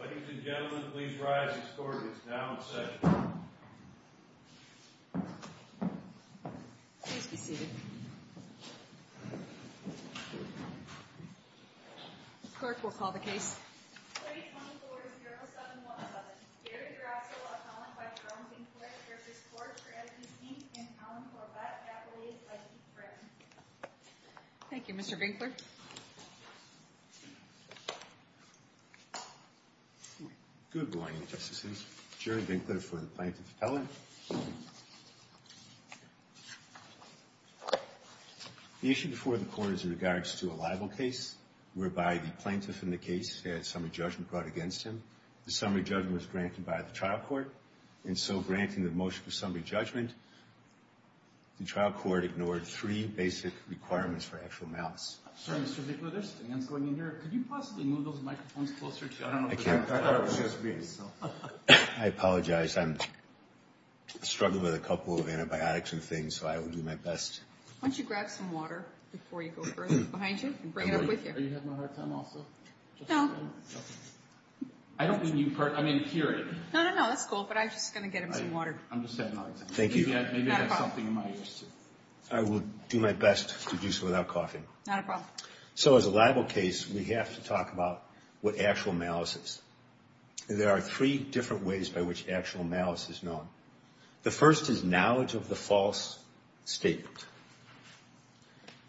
Ladies and gentlemen, please rise. This court is now in session. Please be seated. The clerk will call the case. Good morning, Justices. Jerry Vinkler for the Plaintiff Appellate. The issue before the Court is in regards to a libel case, whereby the plaintiff in the case had summary judgment brought against him. The summary judgment was granted by the trial court, and so, granting the motion for summary judgment, the trial court ignored three basic requirements for actual malice. I'm sorry, Mr. Vinkler, there's things going in here. Could you possibly move those microphones closer to you? I can't. I apologize. I'm struggling with a couple of antibiotics and things, so I will do my best. Why don't you grab some water before you go further, behind you, and bring it up with you. Are you having a hard time also? No. I don't mean you, I mean, period. No, no, no, that's cool, but I'm just going to get him some water. I'm just having a hard time. Thank you. Maybe I have something in my ears, too. I will do my best to do so without coughing. Not a problem. So, as a libel case, we have to talk about what actual malice is. There are three different ways by which actual malice is known. The first is knowledge of the false statement.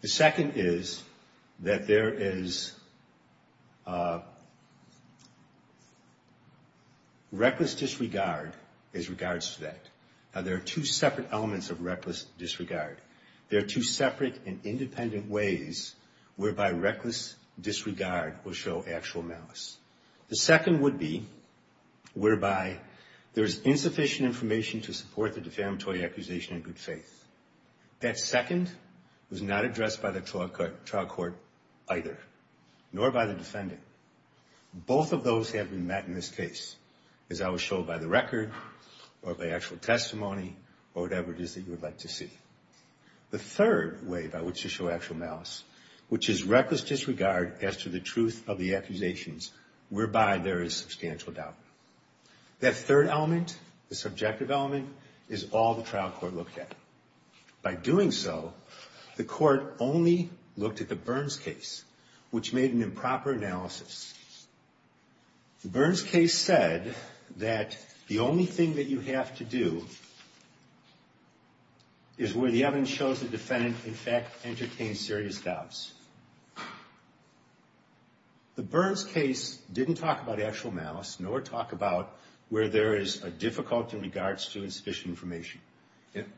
The second is that there is reckless disregard as regards to that. Now, there are two separate elements of reckless disregard. There are two separate and independent ways whereby reckless disregard will show actual malice. The second would be whereby there is insufficient information to support the defamatory accusation in good faith. That second was not addressed by the trial court either, nor by the defendant. Both of those have been met in this case, as I was shown by the record or by actual testimony or whatever it is that you would like to see. The third way by which to show actual malice, which is reckless disregard as to the truth of the accusations, whereby there is substantial doubt. That third element, the subjective element, is all the trial court looked at. By doing so, the court only looked at the Burns case, which made an improper analysis. The Burns case said that the only thing that you have to do is where the evidence shows the defendant, in fact, entertained serious doubts. The Burns case didn't talk about actual malice, nor talk about where there is a difficulty in regards to insufficient information.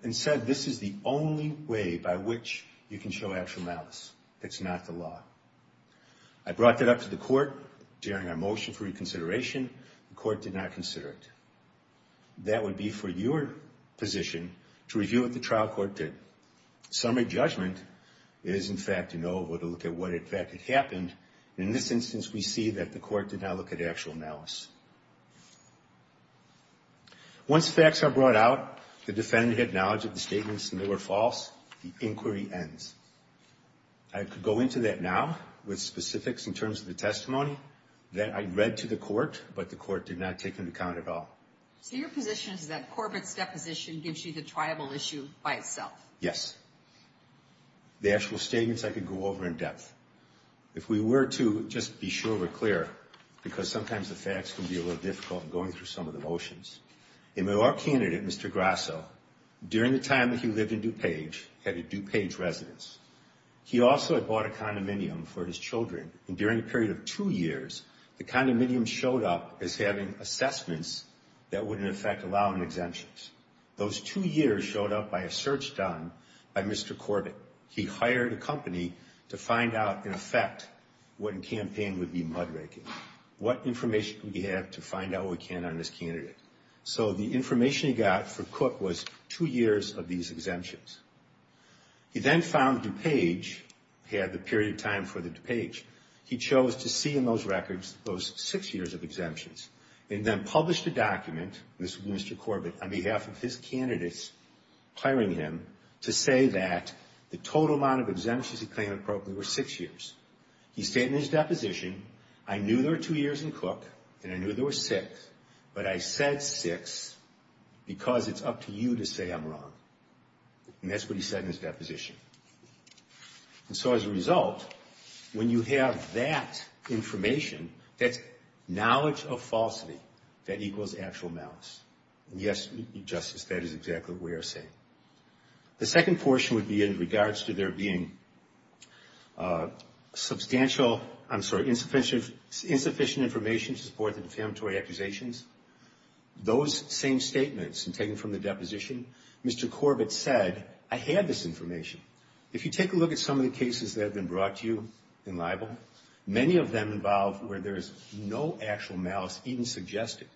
Instead, this is the only way by which you can show actual malice. It's not the law. I brought that up to the court during our motion for reconsideration. The court did not consider it. That would be for your position to review what the trial court did. Summary judgment is, in fact, to know or to look at what, in fact, had happened. In this instance, we see that the court did not look at actual malice. Once facts are brought out, the defendant had knowledge of the statements, and they were false. The inquiry ends. I could go into that now with specifics in terms of the testimony that I read to the court, but the court did not take into account at all. So your position is that Corbett's deposition gives you the tribal issue by itself? Yes. The actual statements, I could go over in depth. If we were to, just to be sure we're clear, because sometimes the facts can be a little difficult in going through some of the motions. In our candidate, Mr. Grasso, during the time that he lived in DuPage, had a DuPage residence. He also had bought a condominium for his children, and during a period of two years, the condominium showed up as having assessments that would, in effect, allow an exemption. Those two years showed up by a search done by Mr. Corbett. He hired a company to find out, in effect, what in campaign would be mud-raking, what information could we have to find out what we can on this candidate. So the information he got for Cook was two years of these exemptions. He then found DuPage, he had the period of time for the DuPage, he chose to see in those records those six years of exemptions, and then published a document, this was Mr. Corbett, on behalf of his candidates hiring him, to say that the total amount of exemptions he claimed appropriately were six years. He stated in his deposition, I knew there were two years in Cook, and I knew there were six, but I said six because it's up to you to say I'm wrong. And that's what he said in his deposition. And so as a result, when you have that information, that knowledge of falsity, that equals actual malice. Yes, Justice, that is exactly what we are saying. The second portion would be in regards to there being substantial, I'm sorry, insufficient information to support the defamatory accusations. Those same statements taken from the deposition, Mr. Corbett said, I had this information. If you take a look at some of the cases that have been brought to you in libel, many of them involve where there is no actual malice even suggested.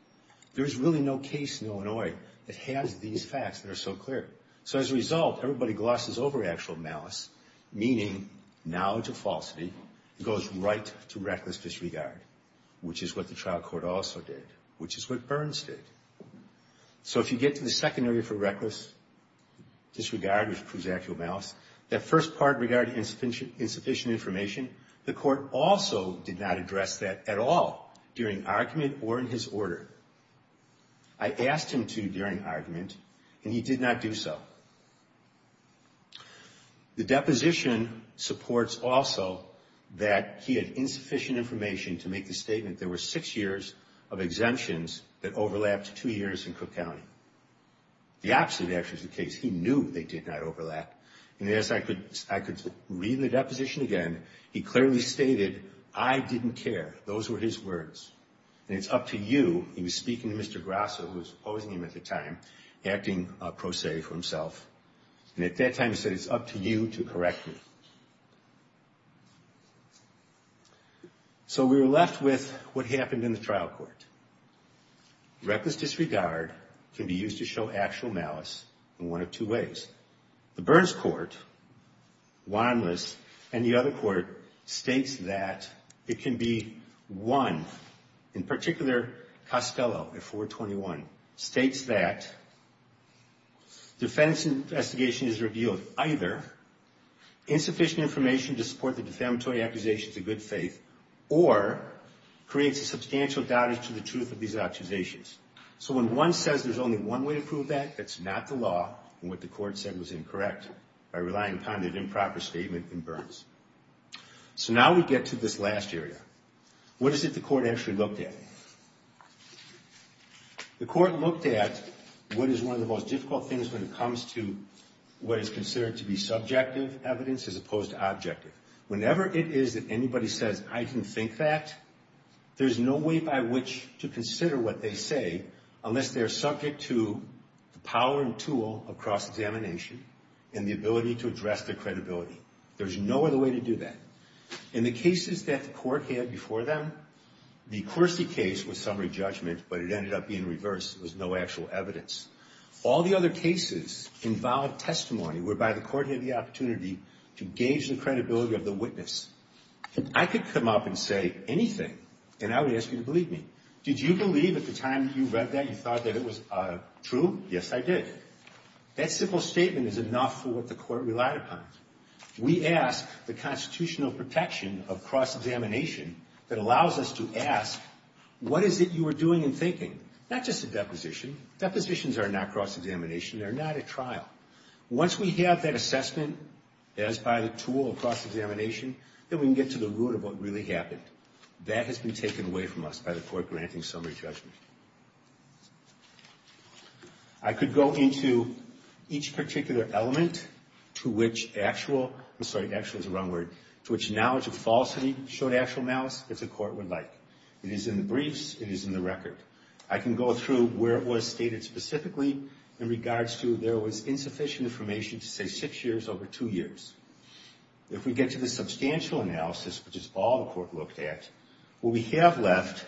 There is really no case in Illinois that has these facts that are so clear. So as a result, everybody glosses over actual malice, meaning knowledge of falsity. It goes right to reckless disregard, which is what the trial court also did, which is what Burns did. So if you get to the second area for reckless disregard, which proves actual malice, that first part regarding insufficient information, the court also did not address that at all during argument or in his order. I asked him to during argument, and he did not do so. The deposition supports also that he had insufficient information to make the statement there were six years of exemptions that overlapped two years in Cook County. The opposite actually is the case. He knew they did not overlap. And as I could read in the deposition again, he clearly stated, I didn't care. Those were his words, and it's up to you. He was speaking to Mr. Grasso, who was opposing him at the time, acting pro se for himself. And at that time he said, it's up to you to correct me. So we were left with what happened in the trial court. Reckless disregard can be used to show actual malice in one of two ways. The Burns court, Warnless, and the other court states that it can be one, in particular Costello, at 421, states that defense investigation is revealed either insufficient information to support the defamatory accusations of good faith or creates a substantial doubt as to the truth of these accusations. So when one says there's only one way to prove that, that's not the law, and what the court said was incorrect by relying upon an improper statement in Burns. So now we get to this last area. What is it the court actually looked at? The court looked at what is one of the most difficult things when it comes to what is considered to be subjective evidence as opposed to objective. Whenever it is that anybody says, I didn't think that, there's no way by which to consider what they say unless they're subject to the power and tool of cross-examination and the ability to address their credibility. There's no other way to do that. In the cases that the court had before them, the Coursey case was summary judgment, but it ended up being reversed. There was no actual evidence. All the other cases involved testimony whereby the court had the opportunity to gauge the credibility of the witness. I could come up and say anything, and I would ask you to believe me. Did you believe at the time that you read that you thought that it was true? Yes, I did. That simple statement is enough for what the court relied upon. We ask the constitutional protection of cross-examination that allows us to ask, what is it you were doing and thinking? Not just a deposition. Depositions are not cross-examination. They're not a trial. Once we have that assessment as by the tool of cross-examination, then we can get to the root of what really happened. That has been taken away from us by the court granting summary judgment. I could go into each particular element to which actual – I'm sorry, actual is the wrong word – to which knowledge of falsity showed actual malice, as the court would like. It is in the briefs. It is in the record. I can go through where it was stated specifically in regards to there was insufficient information to say six years over two years. If we get to the substantial analysis, which is all the court looked at, what we have left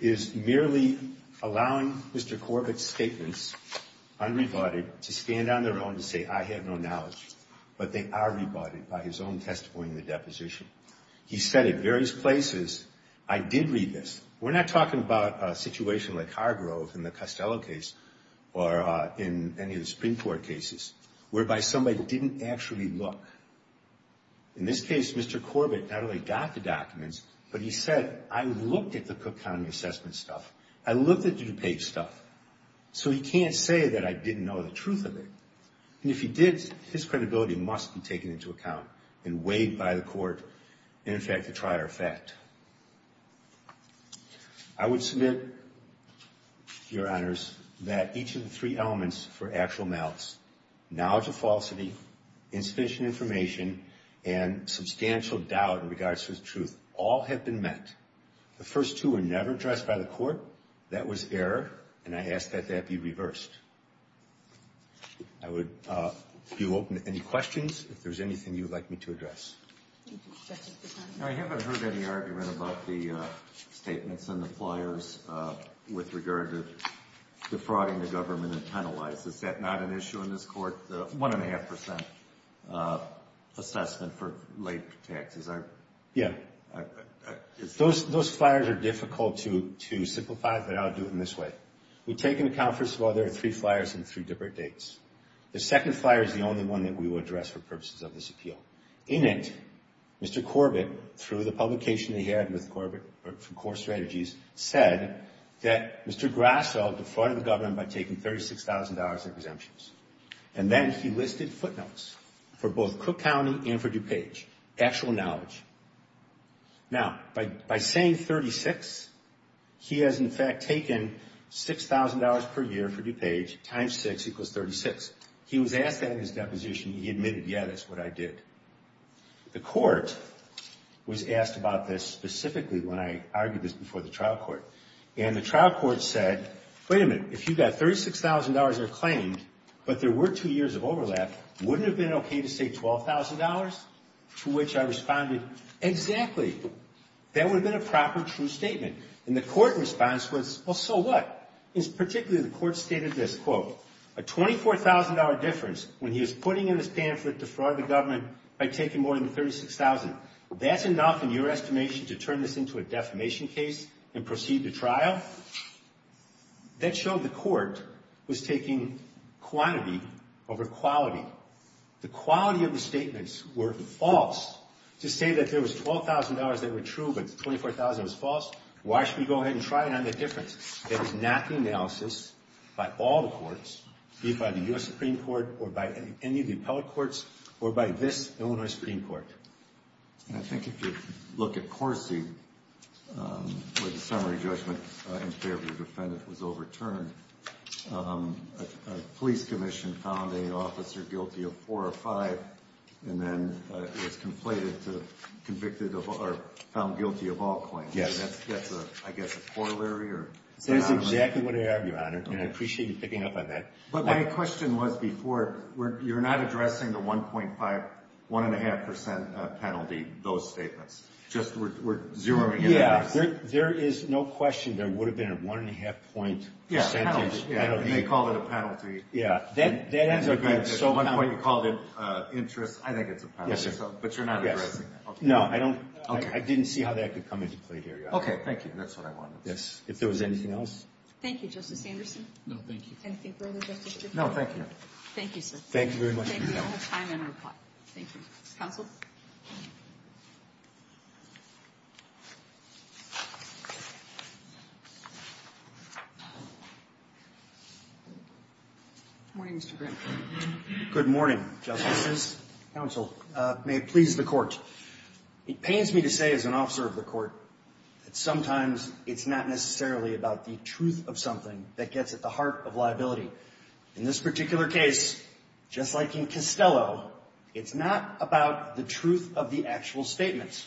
is merely allowing Mr. Corbett's statements, unrebutted, to stand on their own to say, I have no knowledge, but they are rebutted by his own testimony in the deposition. He said at various places, I did read this. We're not talking about a situation like Hargrove in the Costello case or in any of the Supreme Court cases, whereby somebody didn't actually look. In this case, Mr. Corbett not only got the documents, but he said, I looked at the Cook County assessment stuff. I looked at the DuPage stuff. So he can't say that I didn't know the truth of it. And if he did, his credibility must be taken into account and weighed by the court in effect to try our fact. I would submit, Your Honors, that each of the three elements for actual malice, knowledge of falsity, insufficient information, and substantial doubt in regards to the truth all have been met. The first two were never addressed by the court. That was error, and I ask that that be reversed. I would be open to any questions. If there's anything you would like me to address. I haven't heard any argument about the statements in the flyers with regard to defrauding the government and penalize. Is that not an issue in this court, the 1.5% assessment for late taxes? Yeah. Those flyers are difficult to simplify, but I'll do it in this way. We take into account, first of all, there are three flyers and three different dates. The second flyer is the only one that we will address for purposes of this appeal. In it, Mr. Corbett, through the publication he had with Corbett, from Core Strategies, said that Mr. Grasso defrauded the government by taking $36,000 in exemptions. And then he listed footnotes for both Cook County and for DuPage, actual knowledge. Now, by saying 36, he has in fact taken $6,000 per year for DuPage times 6 equals 36. He was asked that in his deposition, and he admitted, yeah, that's what I did. The court was asked about this specifically when I argued this before the trial court. And the trial court said, wait a minute, if you got $36,000 of claim, but there were two years of overlap, wouldn't it have been okay to say $12,000? To which I responded, exactly. That would have been a proper, true statement. And the court response was, well, so what? In particular, the court stated this, quote, a $24,000 difference when he was putting in his pamphlet to fraud the government by taking more than $36,000. That's enough in your estimation to turn this into a defamation case and proceed to trial? That showed the court was taking quantity over quality. The quality of the statements were false. To say that there was $12,000 that were true but $24,000 was false, why should we go ahead and try it on the difference? That is not the analysis by all the courts, be it by the U.S. Supreme Court or by any of the appellate courts or by this Illinois Supreme Court. And I think if you look at Corsi, where the summary judgment in favor of the defendant was overturned, a police commission found an officer guilty of four or five and then was convicted or found guilty of all claims. Yes. That's, I guess, a corollary. That's exactly what I argue on it, and I appreciate you picking up on that. But my question was before, you're not addressing the 1.5, 1.5 percent penalty, those statements. Just we're zeroing in on this. Yeah, there is no question there would have been a 1.5 percentage penalty. Yeah, and they called it a penalty. Yeah, that ends up being so common. You called it interest. I think it's a penalty. Yes, sir. But you're not addressing that. No, I don't. I didn't see how that could come into play here. Okay, thank you. That's what I wanted to say. Yes. If there was anything else. Thank you, Justice Anderson. No, thank you. Anything further, Justice DeFranco? No, thank you. Thank you, sir. Thank you very much. Thank you. I'm going to reply. Thank you. Counsel? Good morning, Mr. Grant. Good morning, Justices. Counsel, may it please the Court. It pains me to say as an officer of the Court that sometimes it's not necessarily about the truth of something that gets at the heart of liability. In this particular case, just like in Costello, it's not about the truth of the actual statements.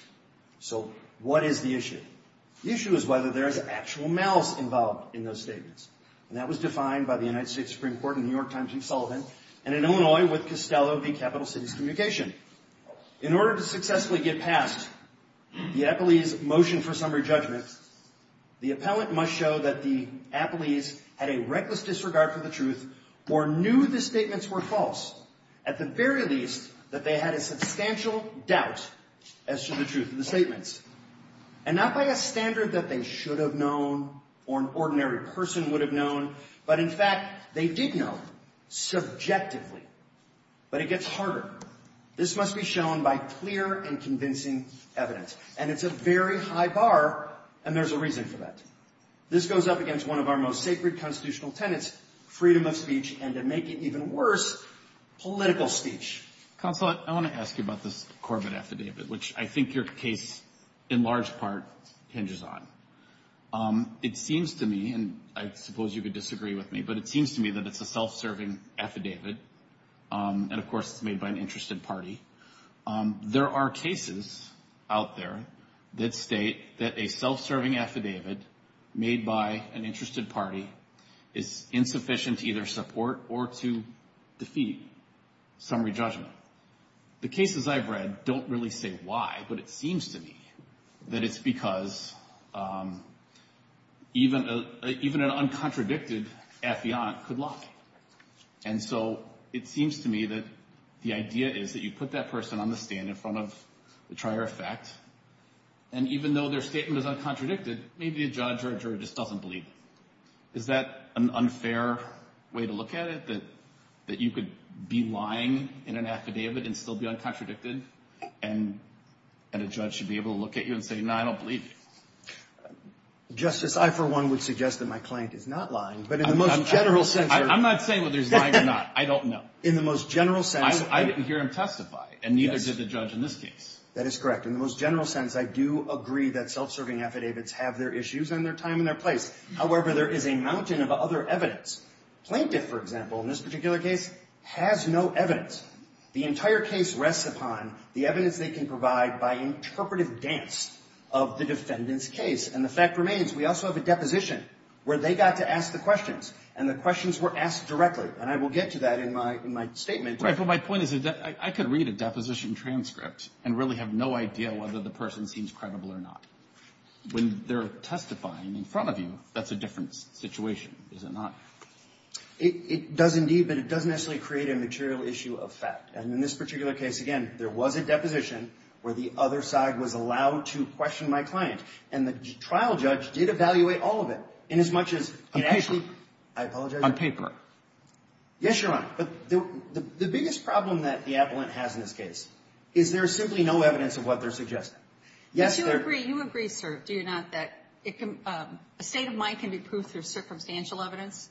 So what is the issue? The issue is whether there is actual malice involved in those statements. And that was defined by the United States Supreme Court in New York Times and Sullivan and in Illinois with Costello v. Capital Cities Communication. In order to successfully get past the appellee's motion for summary judgment, the appellant must show that the appellees had a reckless disregard for the truth or knew the statements were false. At the very least, that they had a substantial doubt as to the truth of the statements. And not by a standard that they should have known or an ordinary person would have known, but in fact, they did know subjectively. But it gets harder. This must be shown by clear and convincing evidence. And it's a very high bar, and there's a reason for that. This goes up against one of our most sacred constitutional tenets, freedom of speech, and to make it even worse, political speech. Counsel, I want to ask you about this Corbett affidavit, which I think your case, in large part, hinges on. It seems to me, and I suppose you could disagree with me, but it seems to me that it's a self-serving affidavit. And of course, it's made by an interested party. There are cases out there that state that a self-serving affidavit made by an interested party is insufficient to either support or to defeat summary judgment. The cases I've read don't really say why, but it seems to me that it's because even an uncontradicted affiant could lie. And so it seems to me that the idea is that you put that person on the stand in front of the trier effect, and even though their statement is uncontradicted, maybe a judge or a juror just doesn't believe it. Is that an unfair way to look at it, that you could be lying in an affidavit and still be uncontradicted, and a judge should be able to look at you and say, no, I don't believe you? Justice, I, for one, would suggest that my client is not lying, but in the most general sense— I'm not saying whether he's lying or not. I don't know. In the most general sense— I didn't hear him testify, and neither did the judge in this case. That is correct. In the most general sense, I do agree that self-serving affidavits have their issues and their time and their place. However, there is a mountain of other evidence. Plaintiff, for example, in this particular case, has no evidence. The entire case rests upon the evidence they can provide by interpretive dance of the defendant's case. And the fact remains, we also have a deposition where they got to ask the questions, and the questions were asked directly, and I will get to that in my statement. Right, but my point is that I could read a deposition transcript and really have no idea whether the person seems credible or not. When they're testifying in front of you, that's a different situation, is it not? It does indeed, but it doesn't necessarily create a material issue of fact. And in this particular case, again, there was a deposition where the other side was allowed to question my client, and the trial judge did evaluate all of it inasmuch as— I apologize? On paper. Yes, Your Honor. But the biggest problem that the appellant has in this case is there is simply no evidence of what they're suggesting. Yes, there— But you agree, you agree, sir, do you not, that a state of mind can be proved through circumstantial evidence?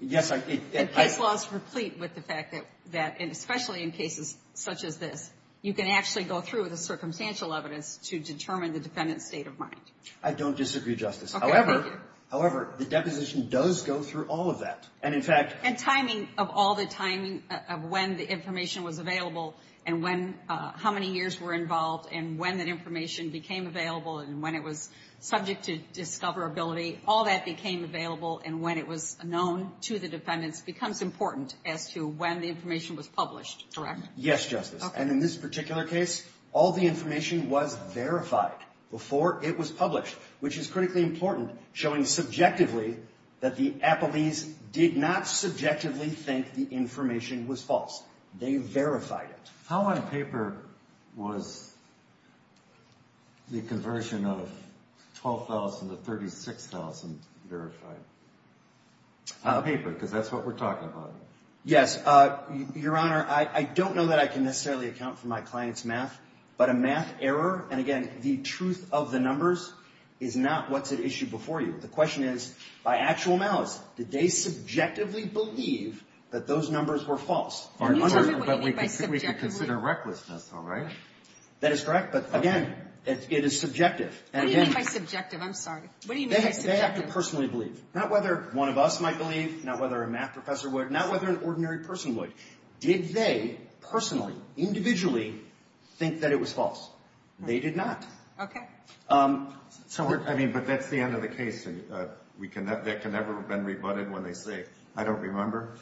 Yes, I— And case laws replete with the fact that, and especially in cases such as this, you can actually go through the circumstantial evidence to determine the defendant's state of mind. I don't disagree, Justice. Okay. Thank you. However, the deposition does go through all of that. And, in fact— And timing of all the timing of when the information was available and when — how many years were involved and when that information became available and when it was subject to discoverability, all that became available and when it was known to the defendants becomes important as to when the information was published, correct? Yes, Justice. And in this particular case, all the information was verified before it was published, which is critically important, showing subjectively that the appellees did not subjectively think the information was false. They verified it. How on paper was the conversion of 12,000 to 36,000 verified? On paper, because that's what we're talking about. Yes, Your Honor, I don't know that I can necessarily account for my client's math, but a math error, and again, the truth of the numbers, is not what's at issue before you. The question is, by actual malice, did they subjectively believe that those numbers were false? And you tell me what you mean by subjectively. We can consider recklessness, all right? That is correct, but again, it is subjective. What do you mean by subjective? I'm sorry. They have to personally believe, not whether one of us might believe, not whether a math professor would, not whether an ordinary person would. Did they personally, individually, think that it was false? They did not. I mean, but that's the end of the case. That can never have been rebutted when they say, I don't remember.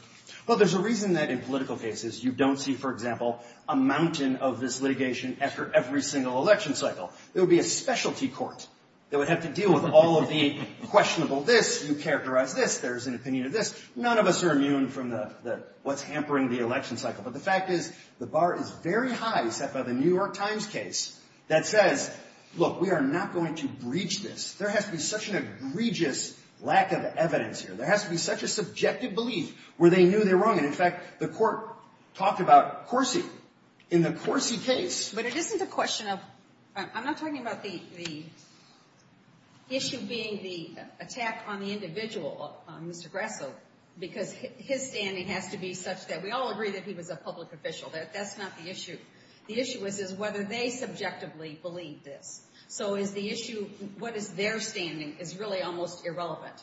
Well, there's a reason that in political cases you don't see, for example, a mountain of this litigation after every single election cycle. There would be a specialty court that would have to deal with all of the questionable this, you characterize this, there's an opinion of this. None of us are immune from what's hampering the election cycle. But the fact is, the bar is very high, except by the New York Times case, that says, look, we are not going to breach this. There has to be such an egregious lack of evidence here. There has to be such a subjective belief where they knew they were wrong. And, in fact, the court talked about Corsi. In the Corsi case. But it isn't a question of, I'm not talking about the issue being the attack on the individual, Mr. Grasso, because his standing has to be such that we all agree that he was a public official. That's not the issue. The issue is whether they subjectively believe this. So is the issue, what is their standing, is really almost irrelevant.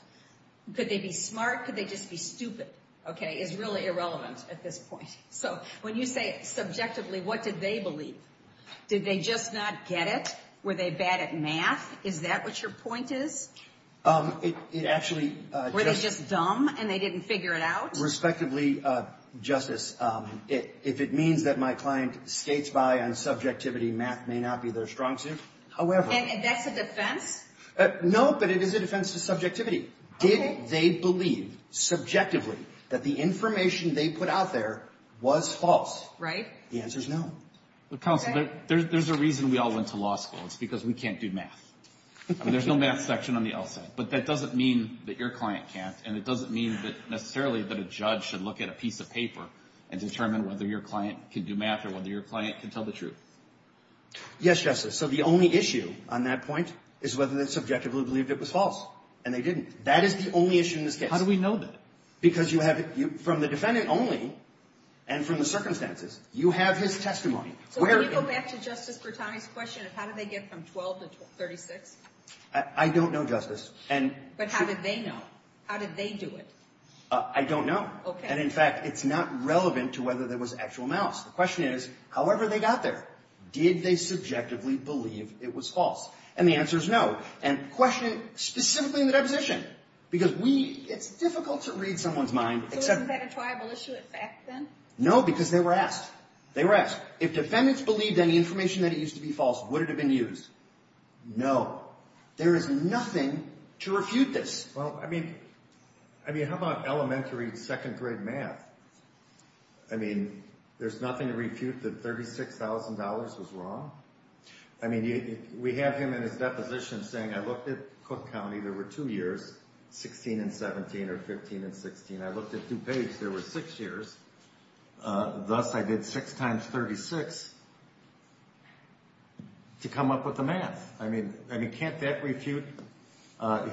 Could they be smart? Could they just be stupid? Okay, is really irrelevant at this point. So when you say subjectively, what did they believe? Did they just not get it? Were they bad at math? Is that what your point is? It actually. Were they just dumb and they didn't figure it out? Respectively, Justice, if it means that my client skates by on subjectivity, math may not be their strong suit. However. And that's a defense? No, but it is a defense to subjectivity. Did they believe subjectively that the information they put out there was false? Right. The answer is no. Counsel, there's a reason we all went to law school. It's because we can't do math. There's no math section on the L side, but that doesn't mean that your client can't, and it doesn't mean that necessarily that a judge should look at a piece of paper and determine whether your client can do math or whether your client can tell the truth. Yes, Justice. So the only issue on that point is whether they subjectively believed it was false, and they didn't. That is the only issue in this case. How do we know that? Because you have it from the defendant only and from the circumstances. You have his testimony. So can we go back to Justice Bertani's question of how did they get from 12 to 36? I don't know, Justice. But how did they know? How did they do it? I don't know. And, in fact, it's not relevant to whether there was actual mouse. The question is, however they got there, did they subjectively believe it was false? And the answer is no. And question specifically in the deposition, because it's difficult to read someone's mind. So wasn't that a triable issue at FACT then? No, because they were asked. They were asked. If defendants believed any information that it used to be false, would it have been used? No. There is nothing to refute this. Well, I mean, how about elementary, second-grade math? I mean, there's nothing to refute that $36,000 was wrong? I mean, we have him in his deposition saying, I looked at Cook County. There were two years, 16 and 17 or 15 and 16. I looked at DuPage. There were six years. Thus, I did 6 times 36 to come up with the math. I mean, can't that refute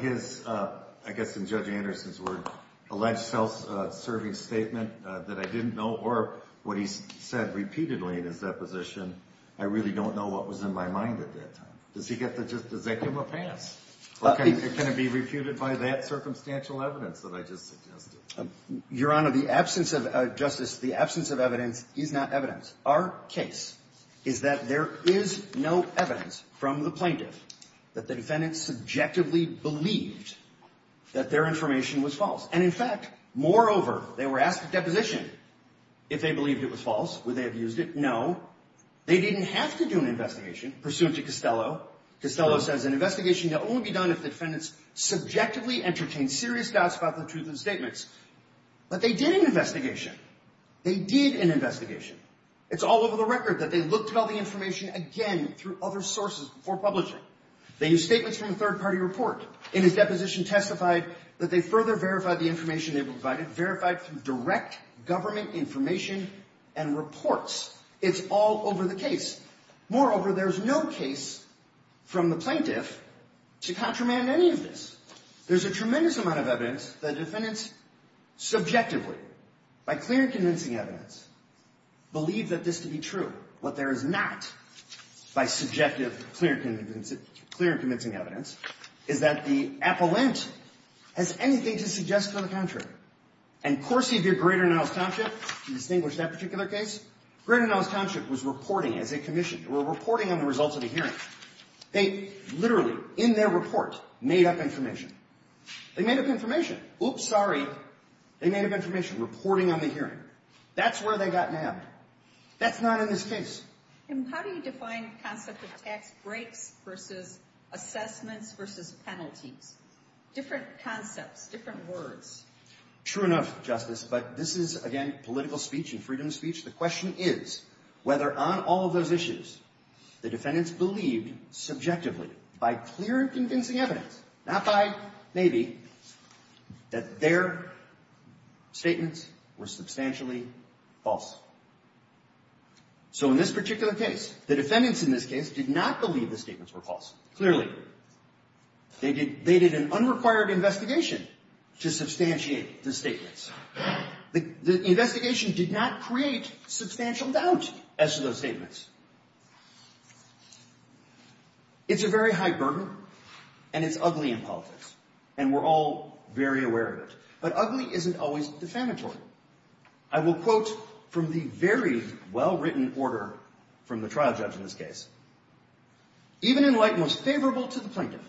his, I guess in Judge Anderson's words, alleged self-serving statement that I didn't know, or what he said repeatedly in his deposition, I really don't know what was in my mind at that time. Does he get the justicium or pass? Or can it be refuted by that circumstantial evidence that I just suggested? Your Honor, the absence of, Justice, the absence of evidence is not evidence. Our case is that there is no evidence from the plaintiff that the defendant subjectively believed that their information was false. And, in fact, moreover, they were asked at deposition if they believed it was false. Would they have used it? No. They didn't have to do an investigation pursuant to Costello. Costello says an investigation can only be done if the defendants subjectively entertained serious doubts about the truth of the statements. But they did an investigation. They did an investigation. It's all over the record that they looked at all the information again through other sources before publishing. They used statements from a third-party report. In his deposition testified that they further verified the information they provided, verified through direct government information and reports. It's all over the case. Moreover, there's no case from the plaintiff to contramand any of this. There's a tremendous amount of evidence that defendants subjectively, by clear and convincing evidence, believe that this to be true. What there is not, by subjective clear and convincing evidence, is that the appellant has anything to suggest to the contrary. And Corsi of your Greater Niles Township, you distinguished that particular case. Greater Niles Township was reporting as a commission. They were reporting on the results of the hearing. They literally, in their report, made up information. They made up information. Oops, sorry. They made up information reporting on the hearing. That's where they got nabbed. That's not in this case. And how do you define the concept of tax breaks versus assessments versus penalties? Different concepts, different words. True enough, Justice, but this is, again, political speech and freedom of speech. The question is whether, on all of those issues, the defendants believed subjectively, by clear and convincing evidence, not by maybe, that their statements were substantially false. So in this particular case, the defendants in this case did not believe the statements were false, clearly. They did an unrequired investigation to substantiate the statements. The investigation did not create substantial doubt as to those statements. It's a very high burden, and it's ugly in politics, and we're all very aware of it. But ugly isn't always defamatory. I will quote from the very well-written order from the trial judge in this case. Even in light most favorable to the plaintiff,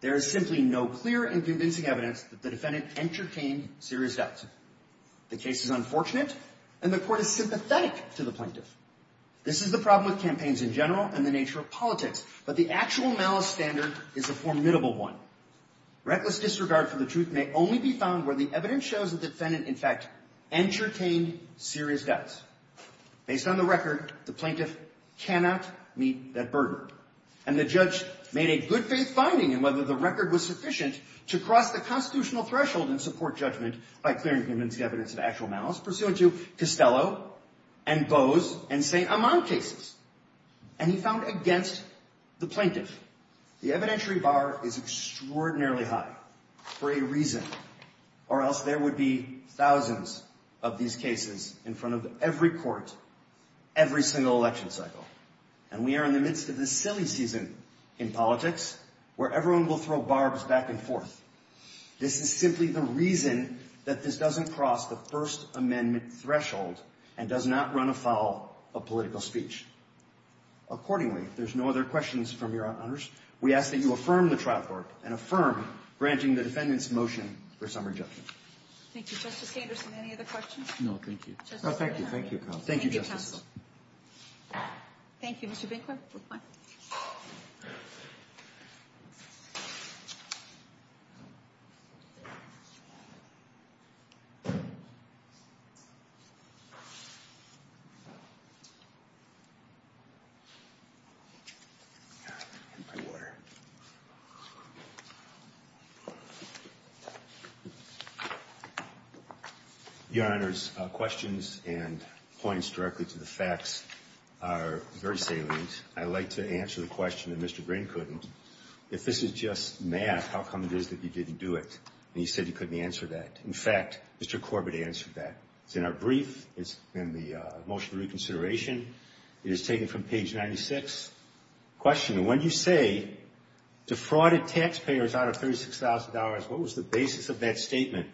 there is simply no clear and convincing evidence that the defendant entertained serious doubts. The case is unfortunate, and the court is sympathetic to the plaintiff. This is the problem with campaigns in general and the nature of politics, but the actual malice standard is a formidable one. Reckless disregard for the truth may only be found where the evidence shows the defendant, in fact, entertained serious doubts. Based on the record, the plaintiff cannot meet that burden. And the judge made a good-faith finding in whether the record was sufficient to cross the constitutional threshold and support judgment by clearing convincing evidence of actual malice, pursuant to Costello and Bowes and St. Amant cases. And he found against the plaintiff. The evidentiary bar is extraordinarily high for a reason, or else there would be thousands of these cases in front of every court, every single election cycle. And we are in the midst of this silly season in politics where everyone will throw barbs back and forth. This is simply the reason that this doesn't cross the First Amendment threshold and does not run afoul of political speech. Accordingly, if there's no other questions from your honors, we ask that you affirm the trial court and affirm granting the defendant's motion for summary judgment. Thank you. Justice Anderson, any other questions? No, thank you. Thank you. Thank you, counsel. Thank you, counsel. Thank you, Mr. Binkler. Your Honor, questions and points directly to the facts are very salient. I'd like to answer the question that Mr. Green couldn't. If this is just math, how come it is that you didn't do it and you said you couldn't answer that? In fact, Mr. Corbett answered that. It's in our brief. It's in the motion for reconsideration. It is taken from page 96. Question, when you say defrauded taxpayers out of $36,000, what was the basis of that statement?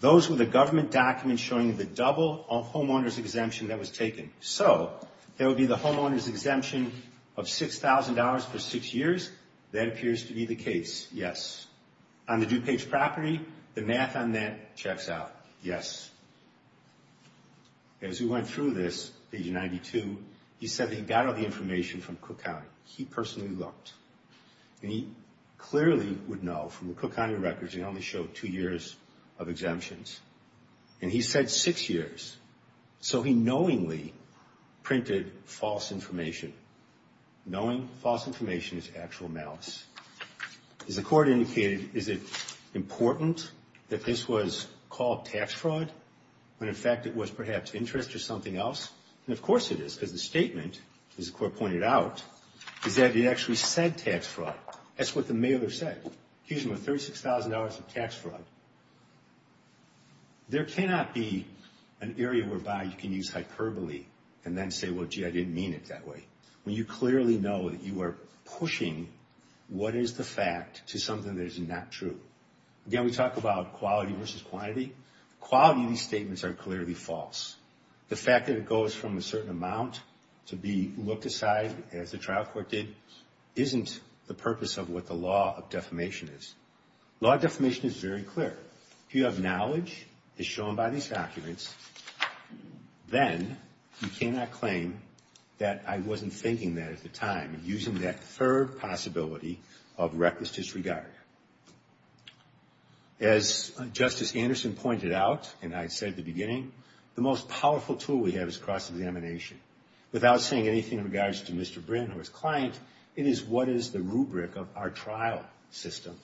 Those were the government documents showing the double homeowners exemption that was taken. So there would be the homeowners exemption of $6,000 for six years. That appears to be the case. Yes. On the due page property, the math on that checks out. Yes. As we went through this, page 92, he said that he got all the information from Cook County. He personally looked. And he clearly would know from the Cook County records he only showed two years of exemptions. And he said six years. So he knowingly printed false information. Knowing false information is actual malice. As the court indicated, is it important that this was called tax fraud when, in fact, it was perhaps interest or something else? And, of course, it is because the statement, as the court pointed out, is that it actually said tax fraud. That's what the mailer said. Accusing them of $36,000 of tax fraud. There cannot be an area whereby you can use hyperbole and then say, well, gee, I didn't mean it that way. When you clearly know that you are pushing what is the fact to something that is not true. Again, we talk about quality versus quantity. Quality of these statements are clearly false. The fact that it goes from a certain amount to be looked aside, as the trial court did, isn't the purpose of what the law of defamation is. Law of defamation is very clear. If you have knowledge, as shown by these documents, then you cannot claim that I wasn't thinking that at the time. Using that third possibility of reckless disregard. As Justice Anderson pointed out, and I said at the beginning, the most powerful tool we have is cross-examination. Without saying anything in regards to Mr. Brin or his client, it is what is the rubric of our trial system.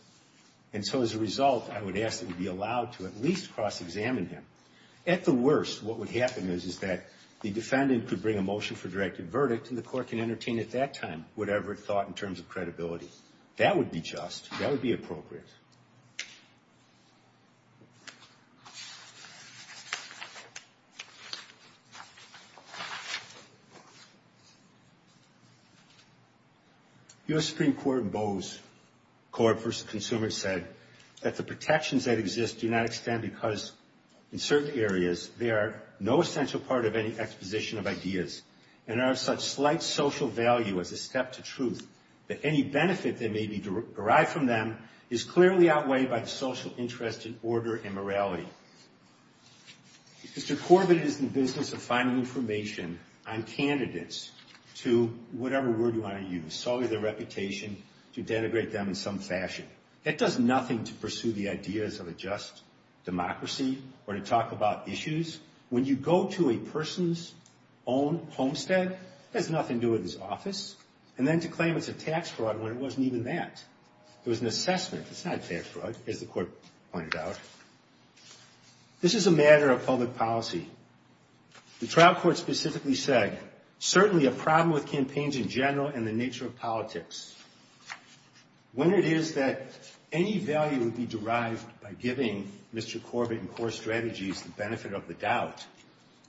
And so as a result, I would ask that we be allowed to at least cross-examine him. At the worst, what would happen is that the defendant could bring a motion for directed verdict, and the court can entertain at that time whatever it thought in terms of credibility. That would be just. That would be appropriate. U.S. Supreme Court in Bose, court versus consumer, said that the protections that exist do not extend because, in certain areas, they are no essential part of any exposition of ideas and are of such slight social value as a step to truth that any benefit that may be derived from them is clearly outweighed by the social interest in order and morality. Mr. Corbin is in the business of finding information on candidates to whatever word you want to use. Sully their reputation, to denigrate them in some fashion. It does nothing to pursue the ideas of a just democracy or to talk about issues. When you go to a person's own homestead, it has nothing to do with his office. And then to claim it's a tax fraud when it wasn't even that. It was an assessment. It's not a tax fraud, as the court pointed out. This is a matter of public policy. The trial court specifically said, certainly a problem with campaigns in general and the nature of politics. When it is that any value would be derived by giving Mr. Corbin and core strategies the benefit of the doubt,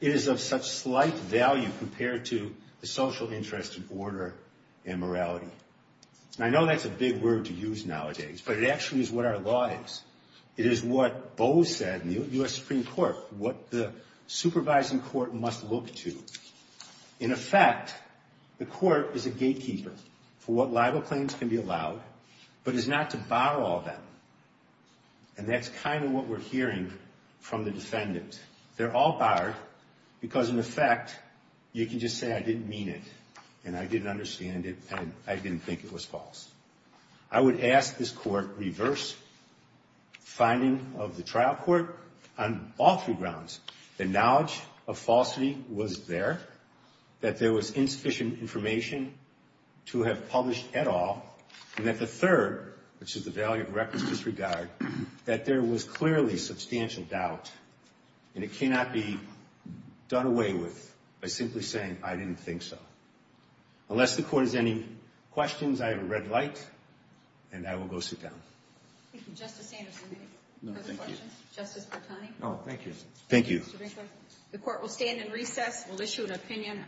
it is of such slight value compared to the social interest in order and morality. And I know that's a big word to use nowadays, but it actually is what our law is. It is what Bo said in the U.S. Supreme Court, what the supervising court must look to. In effect, the court is a gatekeeper for what libel claims can be allowed, but is not to bar all of them. And that's kind of what we're hearing from the defendants. They're all barred because, in effect, you can just say I didn't mean it and I didn't understand it and I didn't think it was false. I would ask this court reverse finding of the trial court on all three grounds. The knowledge of falsity was there, that there was insufficient information to have published at all, and that the third, which is the value of records disregard, that there was clearly substantial doubt and it cannot be done away with by simply saying I didn't think so. Unless the court has any questions, I have a red light, and I will go sit down. Thank you. Justice Sanders, do you have a question? Justice Bertoni? No, thank you. Thank you. The court will stand in recess. We'll issue an opinion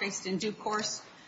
based in due course.